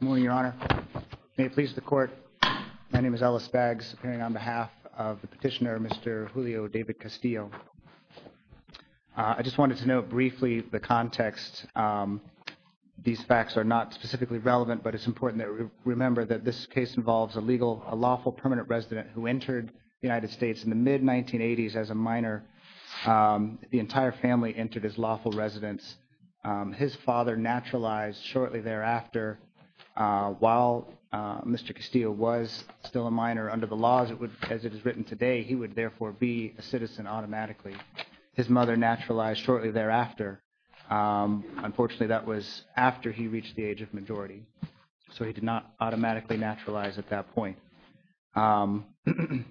Good morning, Your Honor, may it please the Court, my name is Ellis Baggs, appearing on behalf of the petitioner, Mr. Julio David Castillo. I just wanted to note briefly the context. These facts are not specifically relevant, but it's important to remember that this case involves a lawful permanent resident who entered the United States in the mid-1980s as a minor. The entire family entered as lawful residents. His father naturalized shortly thereafter, while Mr. Castillo was still a minor under the laws as it is written today, he would therefore be a citizen automatically. His mother naturalized shortly thereafter, unfortunately that was after he reached the age of majority. So he did not automatically naturalize at that point. In the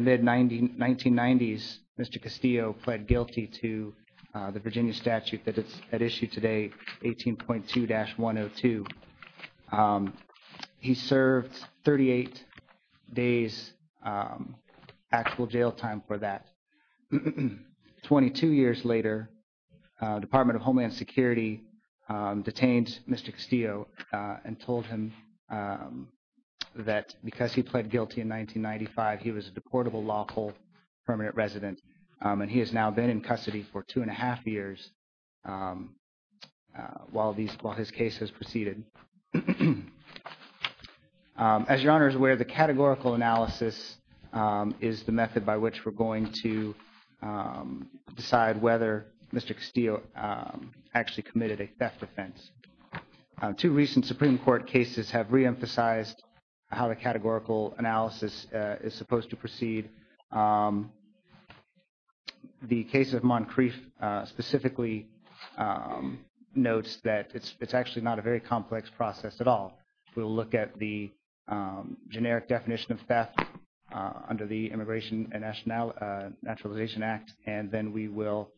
mid-1990s, Mr. Castillo pled guilty to the Virginia statute that is at issue today 18.2-102. He served 38 days actual jail time for that. Twenty-two years later, Department of Homeland Security detained Mr. Castillo and told him that because he pled guilty in 1995, he was a deportable lawful permanent resident, and he has now been in custody for two and a half years while his case has proceeded. As Your Honor is aware, the categorical analysis is the method by which we're going to decide whether Mr. Castillo actually committed a theft offense. Two recent Supreme Court cases have reemphasized how the categorical analysis is supposed to proceed. The case of Moncrief specifically notes that it's actually not a very complex process at all. We'll look at the generic definition of theft under the Immigration and Naturalization Act, and then we will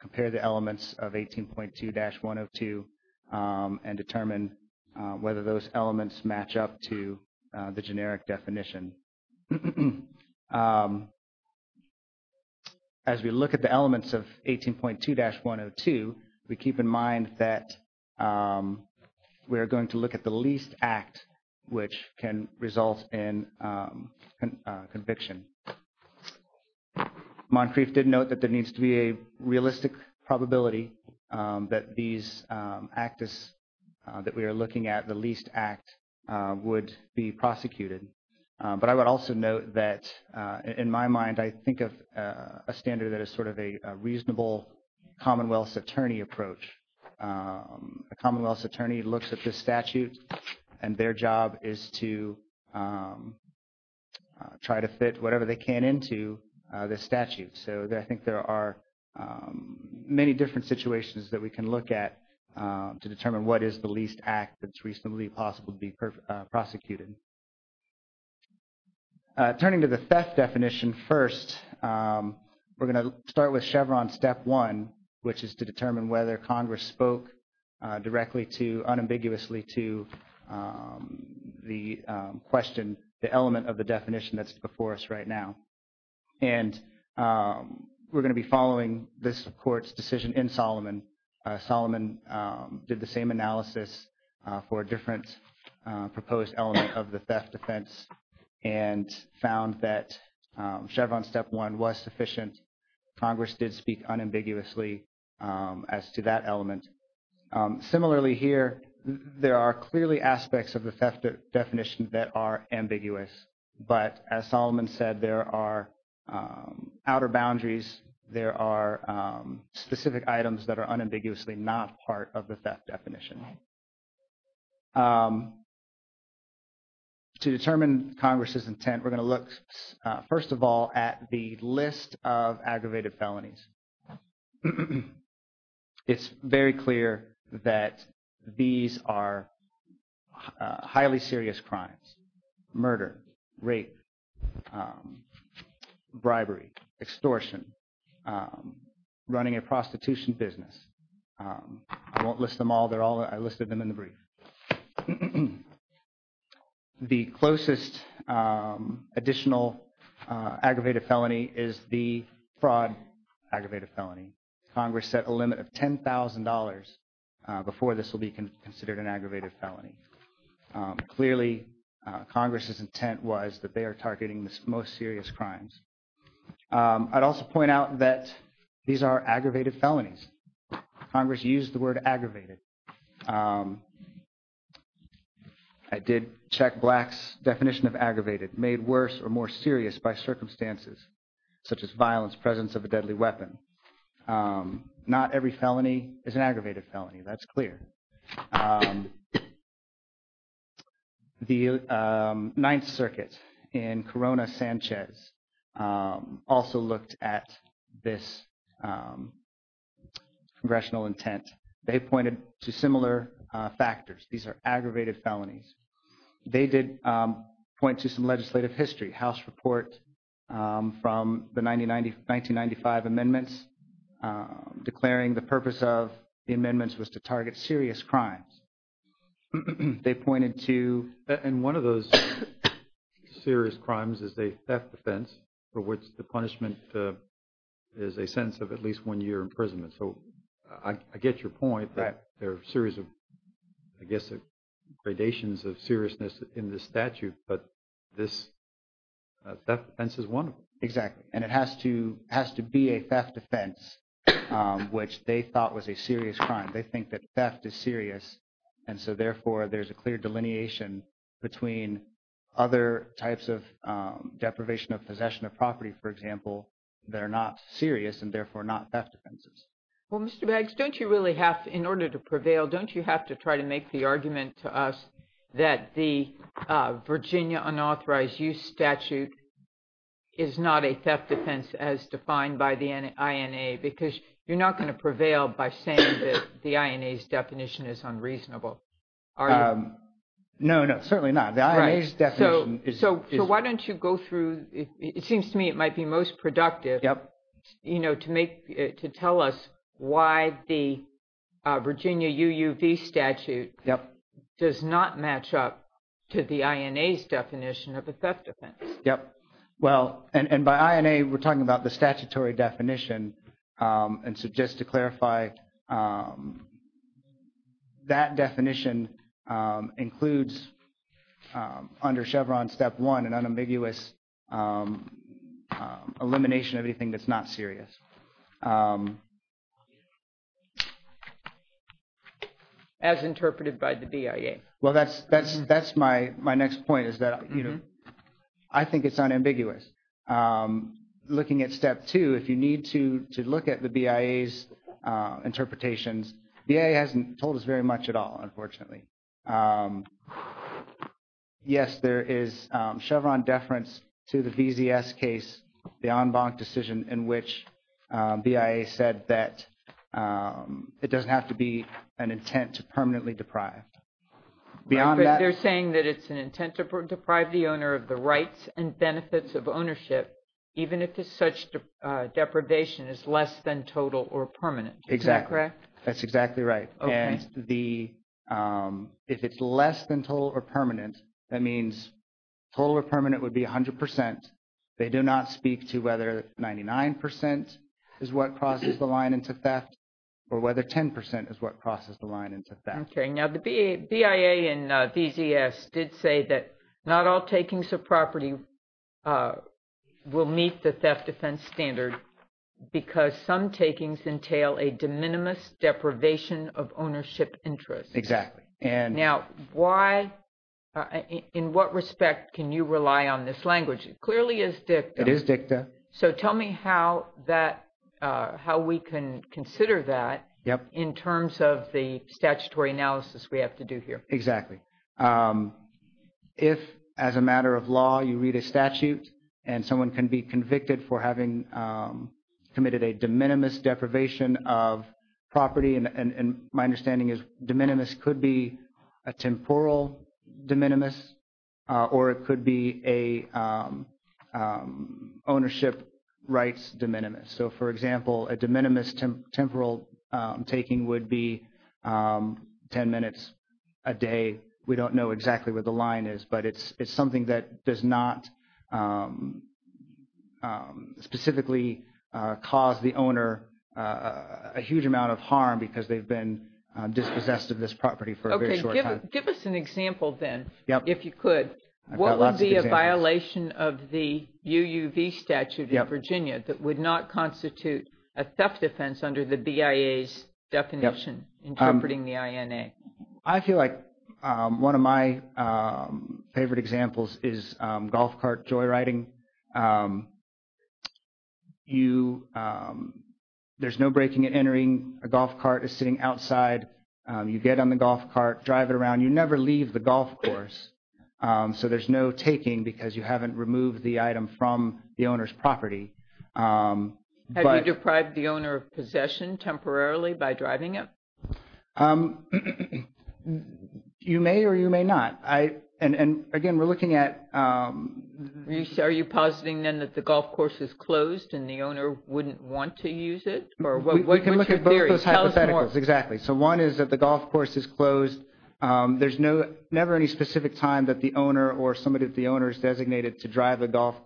compare the elements of 18.2-102 and determine whether those elements match up to the generic definition. As we look at the elements of 18.2-102, we keep in mind that we're going to look at the least act which can result in conviction. Moncrief did note that there needs to be a realistic probability that these act that we are looking at, the least act, would be prosecuted. But I would also note that, in my mind, I think of a standard that is sort of a reasonable commonwealth's attorney approach. A commonwealth's attorney looks at the statute, and their job is to try to fit whatever they can into the statute. So I think there are many different situations that we can look at to determine what is the least act that's reasonably possible to be prosecuted. Turning to the theft definition first, we're going to start with Chevron step one, which is to determine whether Congress spoke directly to, unambiguously to, the question, the element of the definition that's before us right now. And we're going to be following this court's decision in Solomon. Solomon did the same analysis for a different proposed element of the theft defense and found that Chevron step one was sufficient. Congress did speak unambiguously as to that element. Similarly here, there are clearly aspects of the theft definition that are ambiguous. But as Solomon said, there are outer boundaries. There are specific items that are unambiguously not part of the theft definition. To determine Congress's intent, we're going to look, first of all, at the list of aggravated felonies. It's very clear that these are highly serious crimes, murder, rape, bribery, extortion, running a prostitution business. I won't list them all. They're all – I listed them in the brief. The closest additional aggravated felony is the fraud aggravated felony. Congress set a limit of $10,000 before this will be considered an aggravated felony. Clearly Congress's intent was that they are targeting the most serious crimes. I'd also point out that these are aggravated felonies. Congress used the word aggravated. I did check Black's definition of aggravated, made worse or more serious by circumstances such as violence, presence of a deadly weapon. Not every felony is an aggravated felony, that's clear. The Ninth Circuit in Corona-Sanchez also looked at this congressional intent. They pointed to similar factors. These are aggravated felonies. They did point to some legislative history. House report from the 1995 amendments declaring the purpose of the amendments was to target serious crimes. They pointed to… And one of those serious crimes is a theft defense for which the punishment is a sentence of at least one year imprisonment. So I get your point that there are a series of, I guess, gradations of seriousness in this statute, but this theft defense is one of them. Exactly. And it has to be a theft defense which they thought was a serious crime. They think that theft is serious and so therefore there's a clear delineation between other types of deprivation of possession of property, for example, that are not serious and therefore not theft defenses. Well, Mr. Bags, don't you really have to, in order to prevail, don't you have to try to make the argument to us that the Virginia Unauthorized Use Statute is not a theft defense as defined by the INA? Because you're not going to prevail by saying that the INA's definition is unreasonable, are you? No, no. Certainly not. The INA's definition is… Right. So why don't you go through… It seems to me it might be most productive to tell us why the Virginia UUV statute does not match up to the INA's definition of a theft defense. Yep. Well, and by INA, we're talking about the statutory definition and so just to clarify, that definition includes under Chevron step one an unambiguous elimination of anything that's not serious. As interpreted by the BIA. Well, that's my next point is that, you know, I think it's unambiguous. Looking at step two, if you need to look at the BIA's interpretations, BIA hasn't told us very much at all, unfortunately. Yes, there is Chevron deference to the VZS case, the en banc decision in which BIA said that it doesn't have to be an intent to permanently deprive. Beyond that… They're saying that it's an intent to deprive the owner of the rights and benefits of ownership even if it's such deprivation is less than total or permanent, is that correct? Exactly. That's exactly right. And if it's less than total or permanent, that means total or permanent would be 100%. They do not speak to whether 99% is what crosses the line into theft or whether 10% is what crosses the line into theft. Okay. Now, the BIA and VZS did say that not all takings of property will meet the theft defense standard because some takings entail a de minimis deprivation of ownership interest. Exactly. Now, why, in what respect can you rely on this language? It clearly is dicta. It is dicta. So tell me how that, how we can consider that in terms of the statutory analysis we have to do here. Exactly. If as a matter of law, you read a statute and someone can be convicted for having committed a de minimis deprivation of property and my understanding is de minimis could be a temporal de minimis or it could be an ownership rights de minimis. So for example, a de minimis temporal taking would be 10 minutes a day. We don't know exactly what the line is, but it's something that does not specifically cause the owner a huge amount of harm because they've been dispossessed of this property for a very short time. Give us an example then if you could. What would be a violation of the UUV statute in Virginia that would not constitute a theft defense under the BIA's definition interpreting the INA? I feel like one of my favorite examples is golf cart joyriding. There's no breaking and entering. A golf cart is sitting outside. You get on the golf cart, drive it around. You never leave the golf course. So there's no taking because you haven't removed the item from the owner's property. Have you deprived the owner of possession temporarily by driving it? You may or you may not. And again, we're looking at... Are you positing then that the golf course is closed and the owner wouldn't want to use it or what's your theory? We can look at both of those hypotheticals. Exactly. So one is that the golf course is closed. There's never any specific time that the owner or somebody that the owner has designated to drive a golf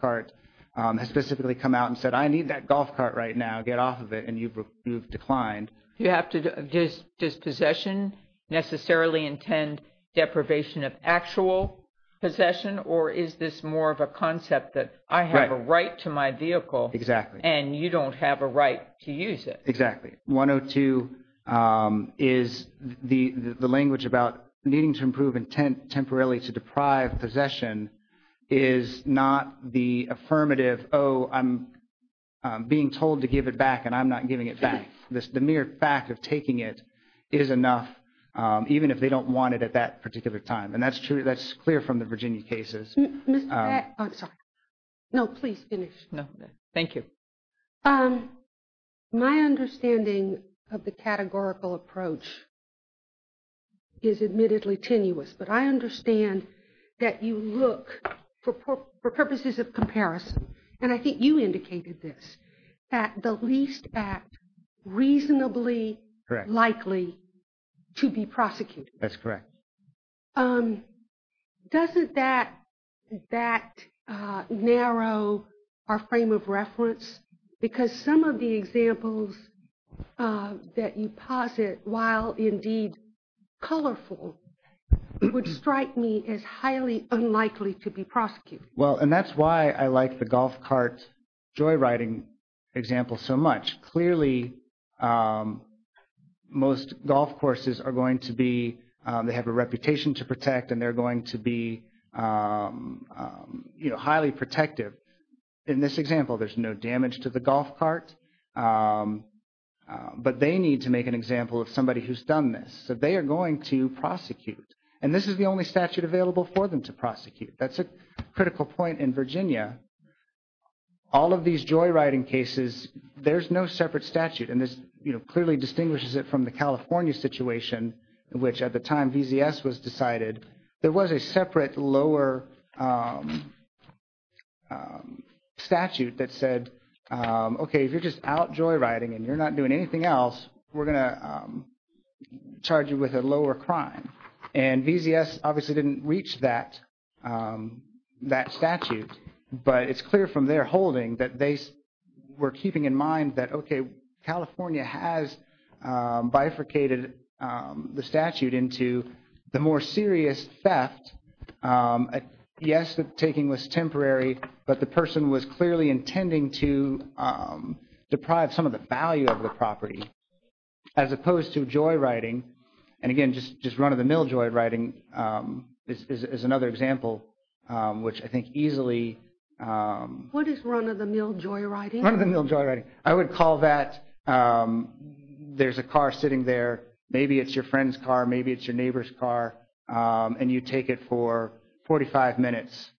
cart has specifically come out and said, I need that golf cart right now. Get off of it. And you've declined. Does possession necessarily intend deprivation of actual possession? Or is this more of a concept that I have a right to my vehicle and you don't have a right to use it? Exactly. 102 is the language about needing to improve intent temporarily to deprive possession is not the affirmative, oh, I'm being told to give it back and I'm not giving it back. The mere fact of taking it is enough, even if they don't want it at that particular time. And that's true. That's clear from the Virginia cases. Mr. Back... I'm sorry. No, please finish. No. Thank you. Mr. Back, my understanding of the categorical approach is admittedly tenuous, but I understand that you look for purposes of comparison, and I think you indicated this, at the least act reasonably likely to be prosecuted. That's correct. Doesn't that narrow our frame of reference? Because some of the examples that you posit, while indeed colorful, would strike me as highly unlikely to be prosecuted. Well, and that's why I like the golf cart joyriding example so much. Clearly, most golf courses are going to be, they have a reputation to protect, and they're going to be highly protective. In this example, there's no damage to the golf cart, but they need to make an example of somebody who's done this, so they are going to prosecute. And this is the only statute available for them to prosecute. That's a critical point in Virginia. All of these joyriding cases, there's no separate statute, and this clearly distinguishes it from the California situation, which at the time VZS was decided, there was a separate lower statute that said, okay, if you're just out joyriding and you're not doing anything else, we're going to charge you with a lower crime. And VZS obviously didn't reach that statute, but it's clear from their holding that they were keeping in mind that, okay, California has bifurcated the statute into the more serious theft. Yes, the taking was temporary, but the person was clearly intending to deprive some of the The mill joyriding is another example, which I think easily... What is run of the mill joyriding? Run of the mill joyriding. I would call that there's a car sitting there, maybe it's your friend's car, maybe it's your neighbor's car, and you take it for 45 minutes.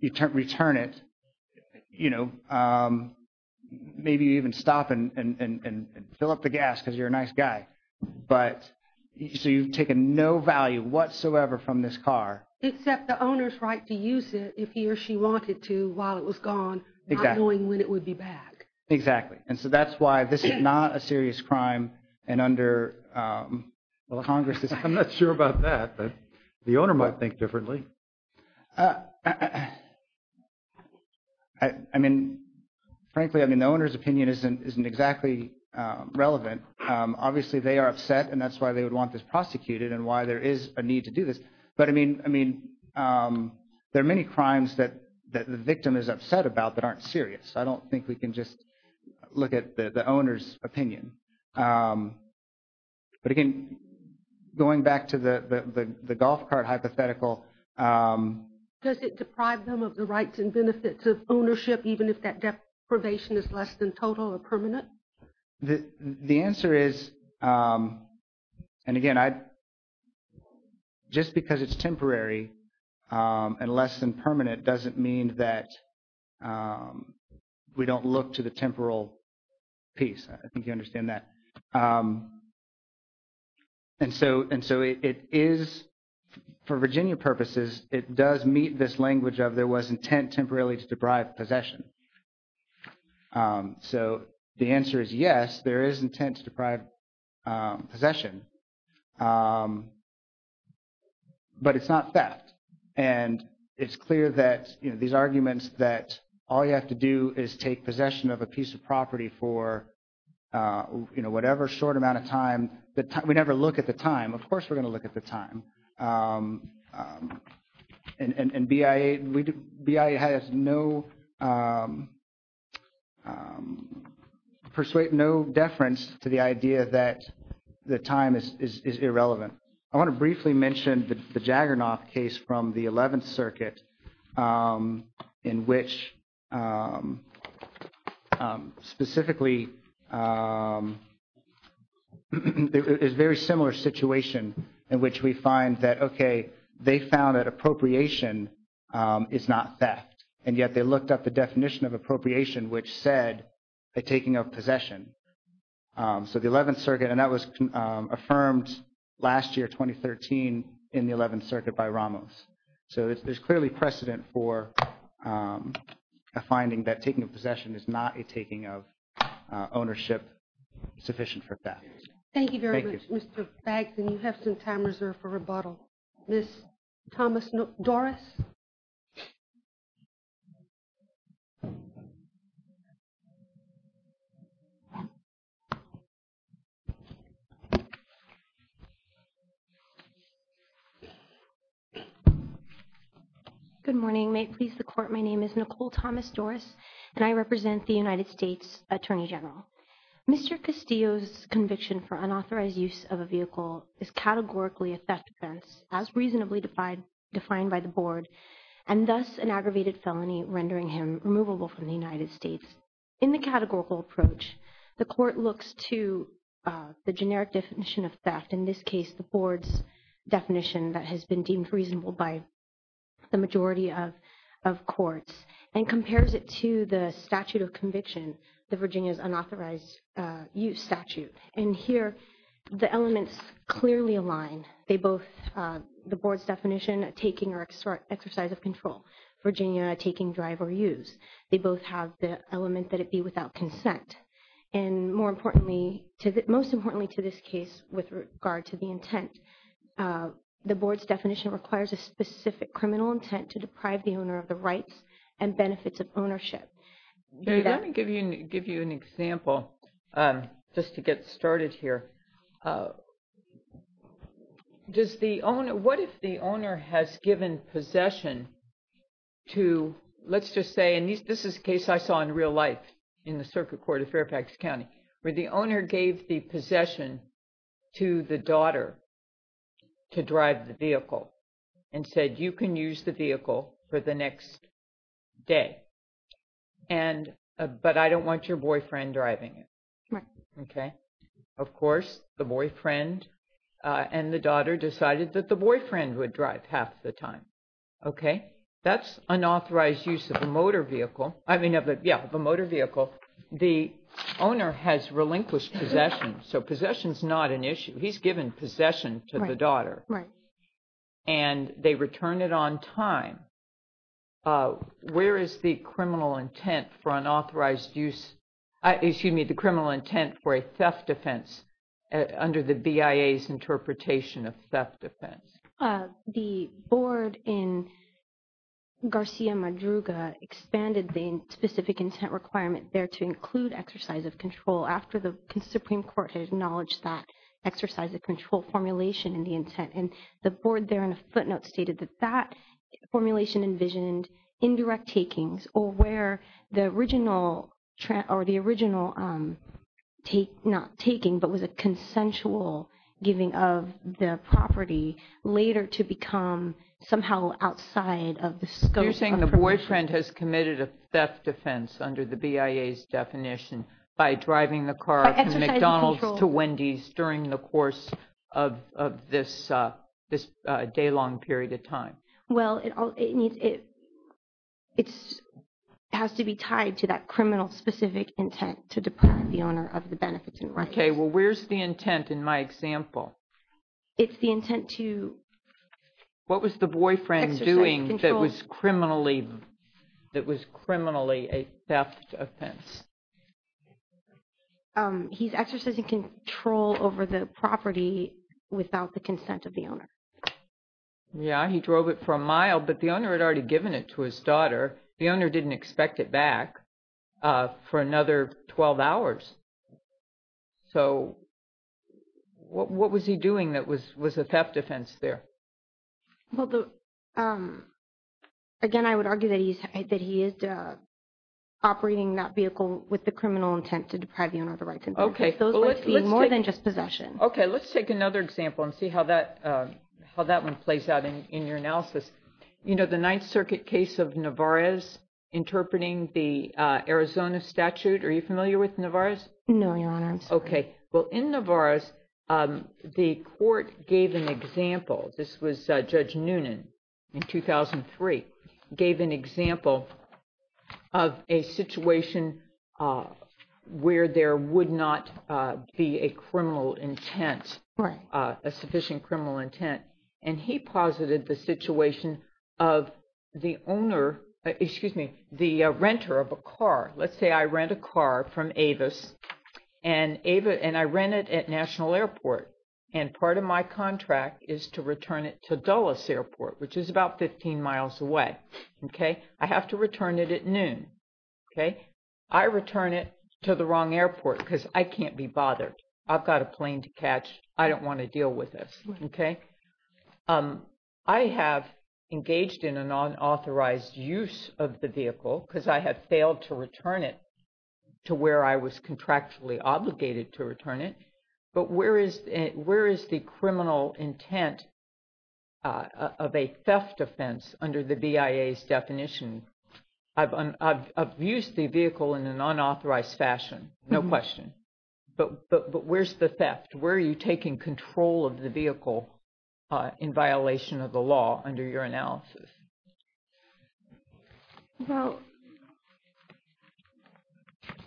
You return it, maybe you even stop and fill up the gas because you're a nice guy. But so you've taken no value whatsoever from this car. Except the owner's right to use it if he or she wanted to while it was gone, not knowing when it would be back. Exactly. And so that's why this is not a serious crime and under, well, Congress is... I'm not sure about that. The owner might think differently. I mean, frankly, I mean, the owner's opinion isn't exactly relevant. Obviously, they are upset and that's why they would want this prosecuted and why there is a need to do this. But I mean, there are many crimes that the victim is upset about that aren't serious. I don't think we can just look at the owner's opinion. But again, going back to the golf cart hypothetical... Does it deprive them of the rights and benefits of ownership, even if that deprivation is less than total or permanent? The answer is, and again, just because it's temporary and less than permanent doesn't mean that we don't look to the temporal piece. I think you understand that. And so it is, for Virginia purposes, it does meet this language of there was intent temporarily to deprive possession. So the answer is yes, there is intent to deprive possession, but it's not theft. And it's clear that these arguments that all you have to do is take possession of a piece of property for whatever short amount of time. We never look at the time. Of course, we're going to look at the time. And BIA has no... Persuade no deference to the idea that the time is irrelevant. I want to briefly mention the Jagernoff case from the 11th Circuit in which specifically it's a very similar situation in which we find that, okay, they found that appropriation is not theft. And yet they looked up the definition of appropriation, which said a taking of possession. So the 11th Circuit, and that was affirmed last year, 2013, in the 11th Circuit by Ramos. So there's clearly precedent for a finding that taking a possession is not a taking of ownership sufficient for theft. Thank you very much, Mr. Bags. And you have some time reserved for rebuttal. Ms. Thomas-Doris? Good morning. May it please the Court. My name is Nicole Thomas-Doris, and I represent the United States Attorney General. Mr. Castillo's conviction for unauthorized use of a vehicle is categorically a theft offense as reasonably defined by the Board, and thus an aggravated felony rendering him removable from the United States. In the categorical approach, the Court looks to the generic definition of theft, in this case, the Board's definition that has been deemed reasonable by the majority of courts, and compares it to the statute of conviction, the Virginia's unauthorized use statute. And here, the elements clearly align. They both, the Board's definition, taking or exercise of control. Virginia, taking, drive, or use. They both have the element that it be without consent. And more importantly, most importantly to this case, with regard to the intent, the Board's definition requires a specific criminal intent to deprive the owner of the rights and benefits of ownership. Jerry, let me give you an example, just to get started here. Does the owner, what if the owner has given possession to, let's just say, and this is a case I saw in real life, in the circuit court of Fairfax County, where the owner gave the possession to the daughter to drive the vehicle, and said, you can use the vehicle for the next day. And, but I don't want your boyfriend driving it. Okay. Of course, the boyfriend and the daughter decided that the boyfriend would drive half the time. Okay. That's unauthorized use of a motor vehicle. I mean, yeah, of a motor vehicle. The owner has relinquished possession, so possession's not an issue. He's given possession to the daughter. Right. And they return it on time. Where is the criminal intent for unauthorized use, excuse me, the criminal intent for a theft offense under the BIA's interpretation of theft offense? The board in Garcia Madruga expanded the specific intent requirement there to include exercise of control after the Supreme Court had acknowledged that exercise of control formulation in the intent, and the board there in a footnote stated that that formulation envisioned indirect takings, or where the original, or the original take, not taking, but was a consensual giving of the property later to become somehow outside of the scope of protection. You're saying the boyfriend has committed a theft offense under the BIA's definition by driving the car from McDonald's to Wendy's during the course of this day-long period of time. Well, it needs, it has to be tied to that criminal specific intent to deprive the owner of the benefits and records. Okay. Well, where's the intent in my example? It's the intent to... What was the boyfriend doing that was criminally, that was criminally a theft offense? He's exercising control over the property without the consent of the owner. Yeah. He drove it for a mile, but the owner had already given it to his daughter. The owner didn't expect it back for another 12 hours. So, what was he doing that was a theft offense there? Well, again, I would argue that he is operating that vehicle with the criminal intent to deprive the owner of the rights and benefits. Okay. Those might be more than just possession. Okay. Let's take another example and see how that one plays out in your analysis. You know, the Ninth Circuit case of Nevarez, interpreting the Arizona statute, are you familiar with Nevarez? No, Your Honor. I'm sorry. Okay. Well, in Nevarez, the court gave an example. This was Judge Noonan in 2003, gave an example of a situation where there would not be a criminal intent, a sufficient criminal intent. And he posited the situation of the owner, excuse me, the renter of a car. Let's say I rent a car from Avis, and I rent it at National Airport. And part of my contract is to return it to Dulles Airport, which is about 15 miles away. Okay. I have to return it at noon. Okay. I return it to the wrong airport because I can't be bothered. I've got a plane to catch. I don't want to deal with this. Okay. I have engaged in a non-authorized use of the vehicle because I have failed to return it to where I was contractually obligated to return it. But where is the criminal intent of a theft offense under the BIA's definition? I've used the vehicle in a non-authorized fashion, no question. But where's the theft? Where are you taking control of the vehicle in violation of the law under your analysis? Well,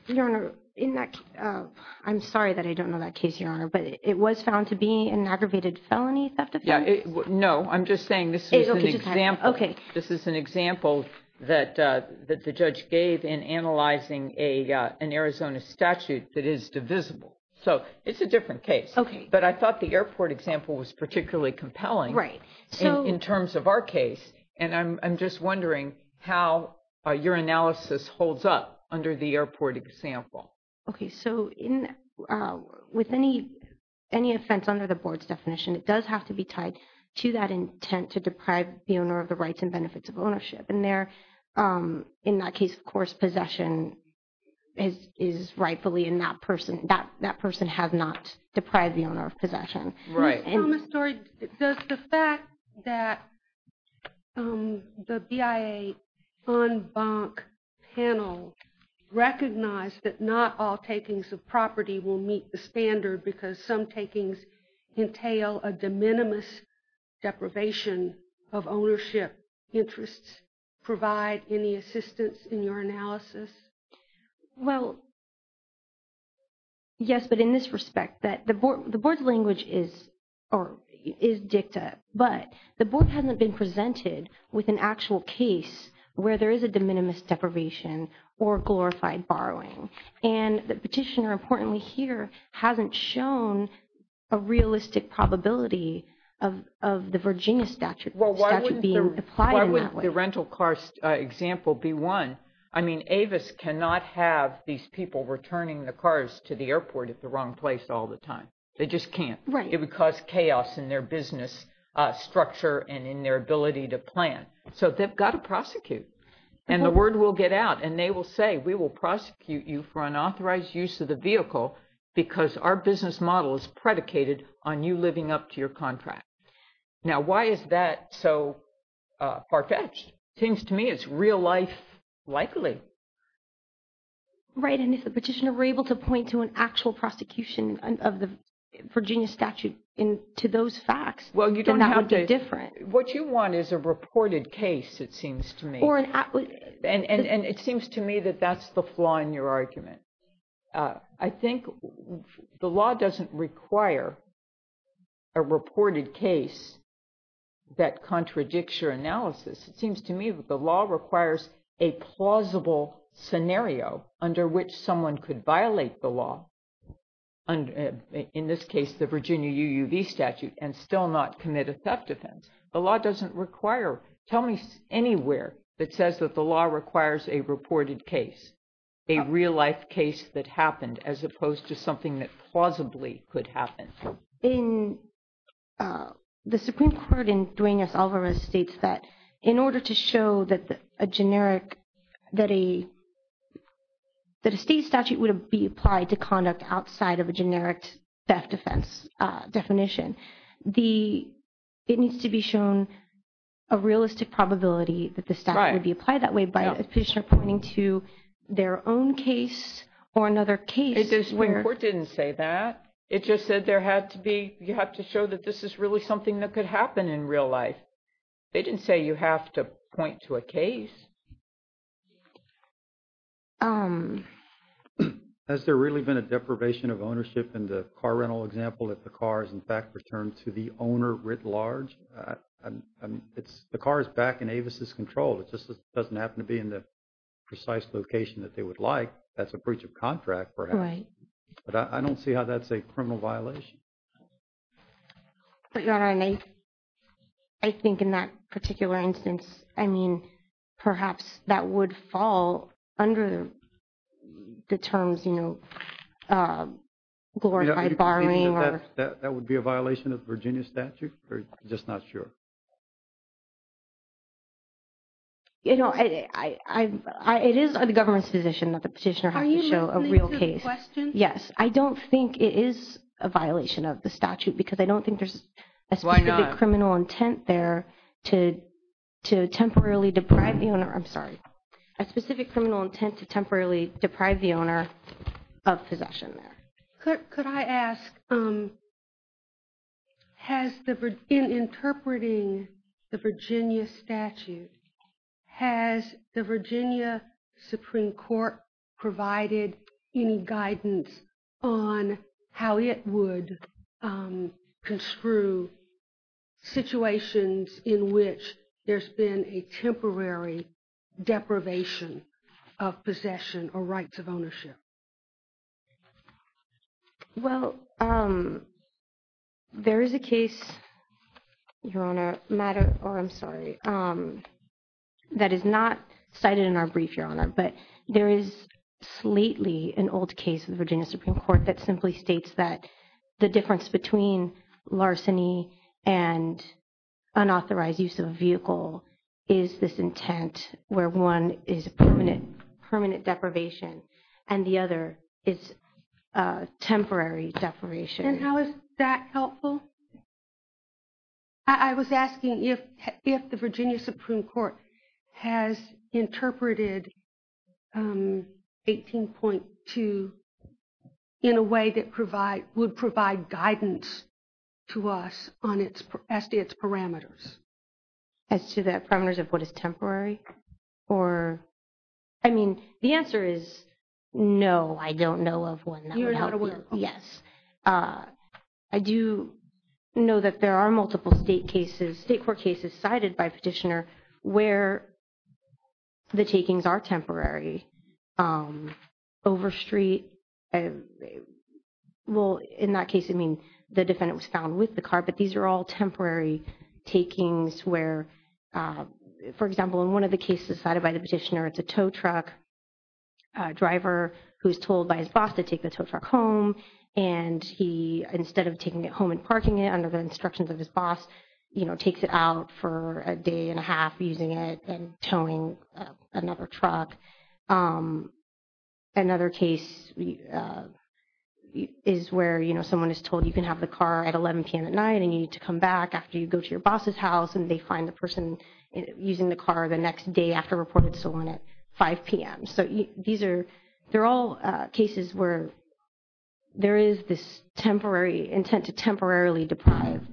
Your Honor, I'm sorry that I don't know that case, Your Honor. But it was found to be an aggravated felony theft offense? No. I'm just saying this is an example. Okay. This is an example that the judge gave in analyzing an Arizona statute that is divisible. So it's a different case. Okay. But I thought the airport example was particularly compelling in terms of our case. And I'm just wondering how your analysis holds up under the airport example. Okay. So with any offense under the board's definition, it does have to be tied to that intent to deprive the owner of the rights and benefits of ownership. And there, in that case, of course, possession is rightfully in that person. That person has not deprived the owner of possession. Right. Ms. Thomas-Story, does the fact that the BIA en banc panel recognize that not all takings of property will meet the standard because some takings entail a de minimis deprivation of ownership interests provide any assistance in your analysis? Well, yes, but in this respect, the board's language is dicta. But the board hasn't been presented with an actual case where there is a de minimis deprivation or glorified borrowing. And the petitioner, importantly here, hasn't shown a realistic probability of the Virginia statute being applied in that way. Well, why wouldn't the rental car example be one? I mean, Avis cannot have these people returning the cars to the airport at the wrong place all the time. They just can't. Right. It would cause chaos in their business structure and in their ability to plan. So they've got to prosecute. And the word will get out. And they will say, we will prosecute you for unauthorized use of the vehicle because our business model is predicated on you living up to your contract. Now, why is that so far-fetched? It seems to me it's real-life likely. Right. And if the petitioner were able to point to an actual prosecution of the Virginia statute to those facts, then that would be different. What you want is a reported case, it seems to me. And it seems to me that that's the flaw in your argument. I think the law doesn't require a reported case that contradicts your analysis. It seems to me that the law requires a plausible scenario under which someone could violate the law, in this case the Virginia UUV statute, and still not commit a theft offense. The law doesn't require – tell me anywhere that says that the law requires a reported case, a real-life case that happened, as opposed to something that plausibly could happen. The Supreme Court in Duenas-Alvarez states that in order to show that a generic – that a state statute would be applied to conduct outside of a generic theft offense definition, it needs to be shown a realistic probability that the statute would be applied that way by a petitioner pointing to their own case or another case. The Supreme Court didn't say that. It just said there had to be – you have to show that this is really something that could happen in real life. They didn't say you have to point to a case. Has there really been a deprivation of ownership in the car rental example if the car is in fact returned to the owner writ large? The car is back in Avis' control. It just doesn't happen to be in the precise location that they would like. That's a breach of contract, perhaps. Right. But I don't see how that's a criminal violation. But, Your Honor, I think in that particular instance, I mean, perhaps that would fall under the terms, you know, glorified borrowing or – That would be a violation of Virginia statute? I'm just not sure. You know, it is the government's position that the petitioner has to show a real case. Are you listening to the question? Yes. I don't think it is a violation of the statute because I don't think there's a specific – Why not? – criminal intent there to temporarily deprive the owner – I'm sorry. A specific criminal intent to temporarily deprive the owner of possession there. Could I ask, in interpreting the Virginia statute, has the Virginia Supreme Court provided any guidance on how it would construe situations in which there's been a temporary deprivation of possession or rights of ownership? Well, there is a case, Your Honor, that is not cited in our brief, Your Honor, but there is slightly an old case in the Virginia Supreme Court that simply states that the difference between larceny and unauthorized use of a vehicle is this intent where one is permanent deprivation and the other is temporary deprivation. And how is that helpful? I was asking if the Virginia Supreme Court has interpreted 18.2 in a way that would provide guidance to us as to its parameters. As to the parameters of what is temporary? I mean, the answer is no, I don't know of one that would help you. You're not aware of them? Yes. I do know that there are multiple state cases, state court cases cited by petitioner where the takings are temporary. Over street, well, in that case, I mean, the defendant was found with the car, but these are all temporary takings where, for example, in one of the cases cited by the petitioner, it's a tow truck driver who's told by his boss to take the tow truck home and he, instead of taking it home and parking it under the instructions of his boss, takes it out for a day and a half using it and towing another truck. Another case is where someone is told you can have the car at 11 p.m. at night and you need to come back after you go to your boss's house and they find the person using the car the next day after reporting to someone at 5 p.m. So these are, they're all cases where there is this temporary, intent to temporarily deprive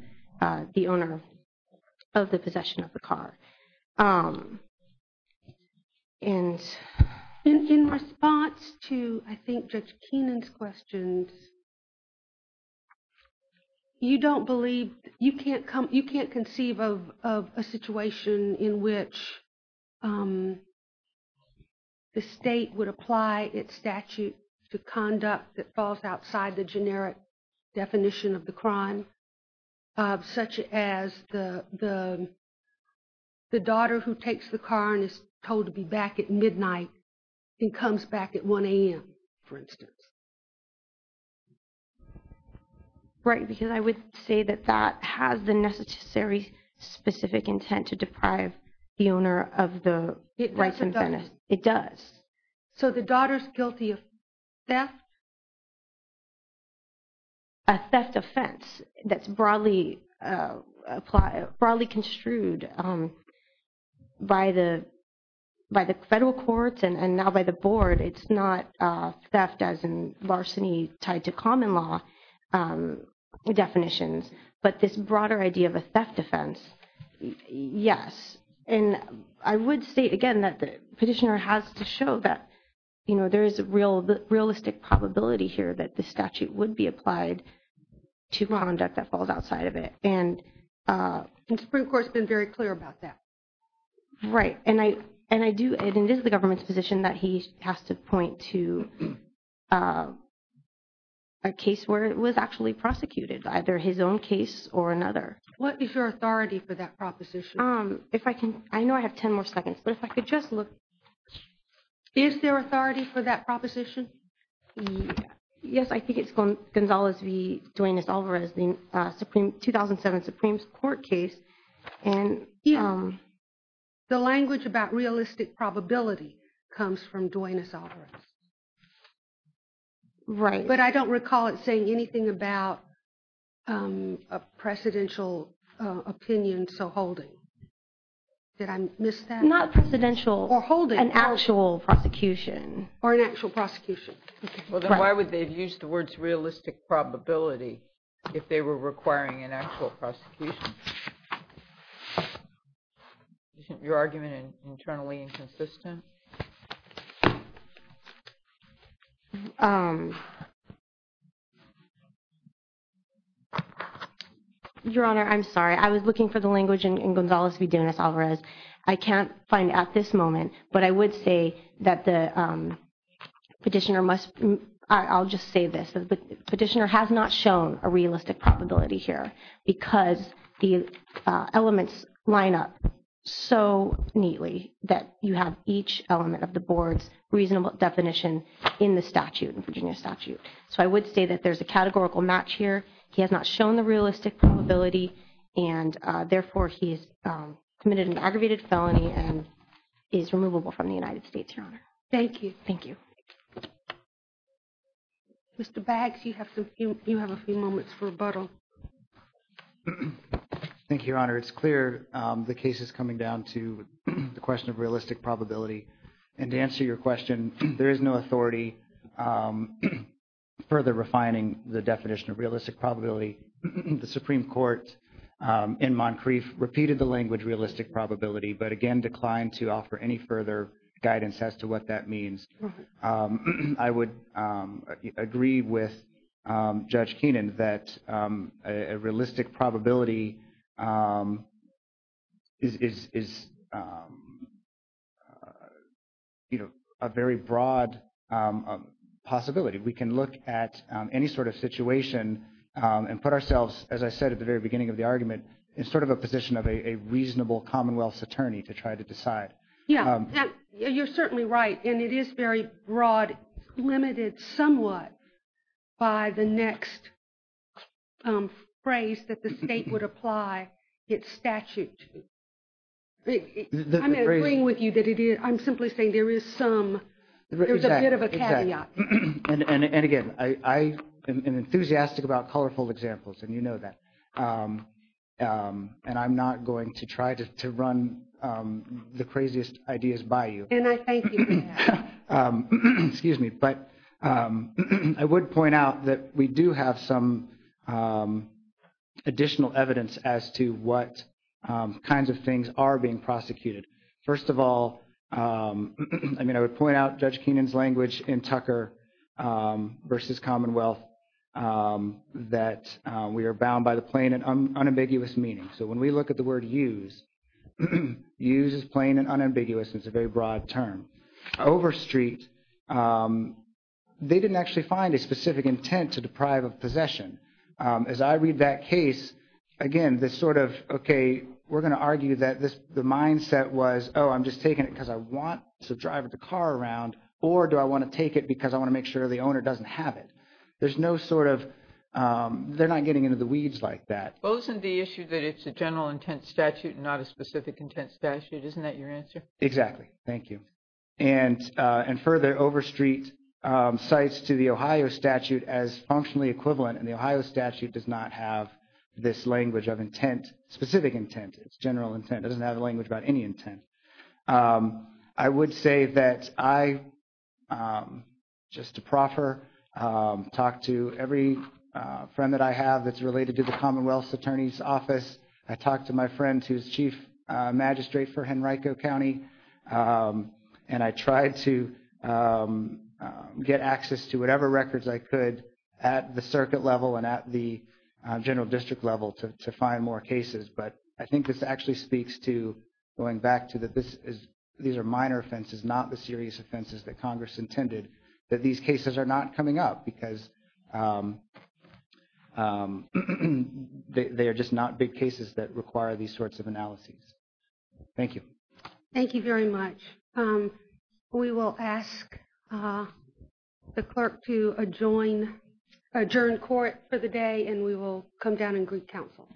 the owner of the possession of the car. And in response to, I think, Judge Keenan's questions, you don't believe, you can't conceive of a situation in which the state would apply its statute to conduct that falls outside the generic definition of the crime, such as the daughter who takes the car and is told to be back at midnight and comes back at 1 a.m., for instance. Right, because I would say that that has the necessary specific intent to deprive the owner of the rights and benefits. It does. So the daughter's guilty of theft? A theft offense that's broadly construed by the federal courts and now by the board. It's not theft as in larceny tied to common law definitions. But this broader idea of a theft offense, yes. And I would state again that the petitioner has to show that, you know, there is a realistic probability here that the statute would be applied to conduct that falls outside of it. And the Supreme Court's been very clear about that. Right. And I do, and it is the government's position that he has to point to a case where it was actually prosecuted, either his own case or another. What is your authority for that proposition? If I can, I know I have 10 more seconds, but if I could just look. Is there authority for that proposition? Yes, I think it's Gonzalez v. Duenas-Alvarez, the 2007 Supreme Court case. And the language about realistic probability comes from Duenas-Alvarez. Right. But I don't recall it saying anything about a presidential opinion, so holding. Did I miss that? Not presidential. Or holding. An actual prosecution. Or an actual prosecution. Well, then why would they have used the words realistic probability if they were requiring an actual prosecution? Isn't your argument internally inconsistent? Your Honor, I'm sorry. I was looking for the language in Gonzalez v. Duenas-Alvarez. I can't find it at this moment, but I would say that the petitioner must, I'll just say this. The petitioner has not shown a realistic probability here because the elements line up so neatly that you have each element of the board's reasonable definition in the statute, in Virginia statute. So I would say that there's a categorical match here. He has not shown the realistic probability, and therefore he's committed an aggravated felony and is removable from the United States, Your Honor. Thank you. Thank you. Mr. Baggs, you have a few moments for rebuttal. Thank you, Your Honor. It's clear the case is coming down to the question of realistic probability. And to answer your question, there is no authority further refining the definition of realistic probability. The Supreme Court in Moncrief repeated the language realistic probability but, again, declined to offer any further guidance as to what that means. I would agree with Judge Keenan that a realistic probability is, you know, a very broad possibility. We can look at any sort of situation and put ourselves, as I said at the very beginning of the argument, in sort of a position of a reasonable commonwealth's attorney to try to decide. Yeah, you're certainly right. And it is very broad, limited somewhat by the next phrase that the state would apply its statute to. I'm agreeing with you that it is. I'm simply saying there is some – there's a bit of a caveat. Yeah. And, again, I am enthusiastic about colorful examples, and you know that. And I'm not going to try to run the craziest ideas by you. And I thank you for that. Excuse me. But I would point out that we do have some additional evidence as to what kinds of things are being prosecuted. First of all, I mean, I would point out Judge Keenan's language in Tucker v. Commonwealth that we are bound by the plain and unambiguous meaning. So when we look at the word use, use is plain and unambiguous. It's a very broad term. Overstreet, they didn't actually find a specific intent to deprive of possession. As I read that case, again, this sort of, okay, we're going to argue that the mindset was, oh, I'm just taking it because I want to drive the car around, or do I want to take it because I want to make sure the owner doesn't have it. There's no sort of – they're not getting into the weeds like that. Well, isn't the issue that it's a general intent statute and not a specific intent statute? Isn't that your answer? Exactly. Thank you. And further, Overstreet cites to the Ohio statute as functionally equivalent, and the Ohio statute does not have this language of intent, specific intent. It's general intent. It doesn't have a language about any intent. I would say that I, just to proffer, talk to every friend that I have that's related to the Commonwealth's Attorney's Office. I talked to my friend who's Chief Magistrate for Henrico County, and I tried to get access to whatever records I could at the circuit level and at the general district level to find more cases. But I think this actually speaks to going back to that these are minor offenses, not the serious offenses that Congress intended, that these cases are not coming up because they are just not big cases that require these sorts of analyses. Thank you. Thank you very much. We will ask the clerk to adjourn court for the day, and we will come down and greet counsel.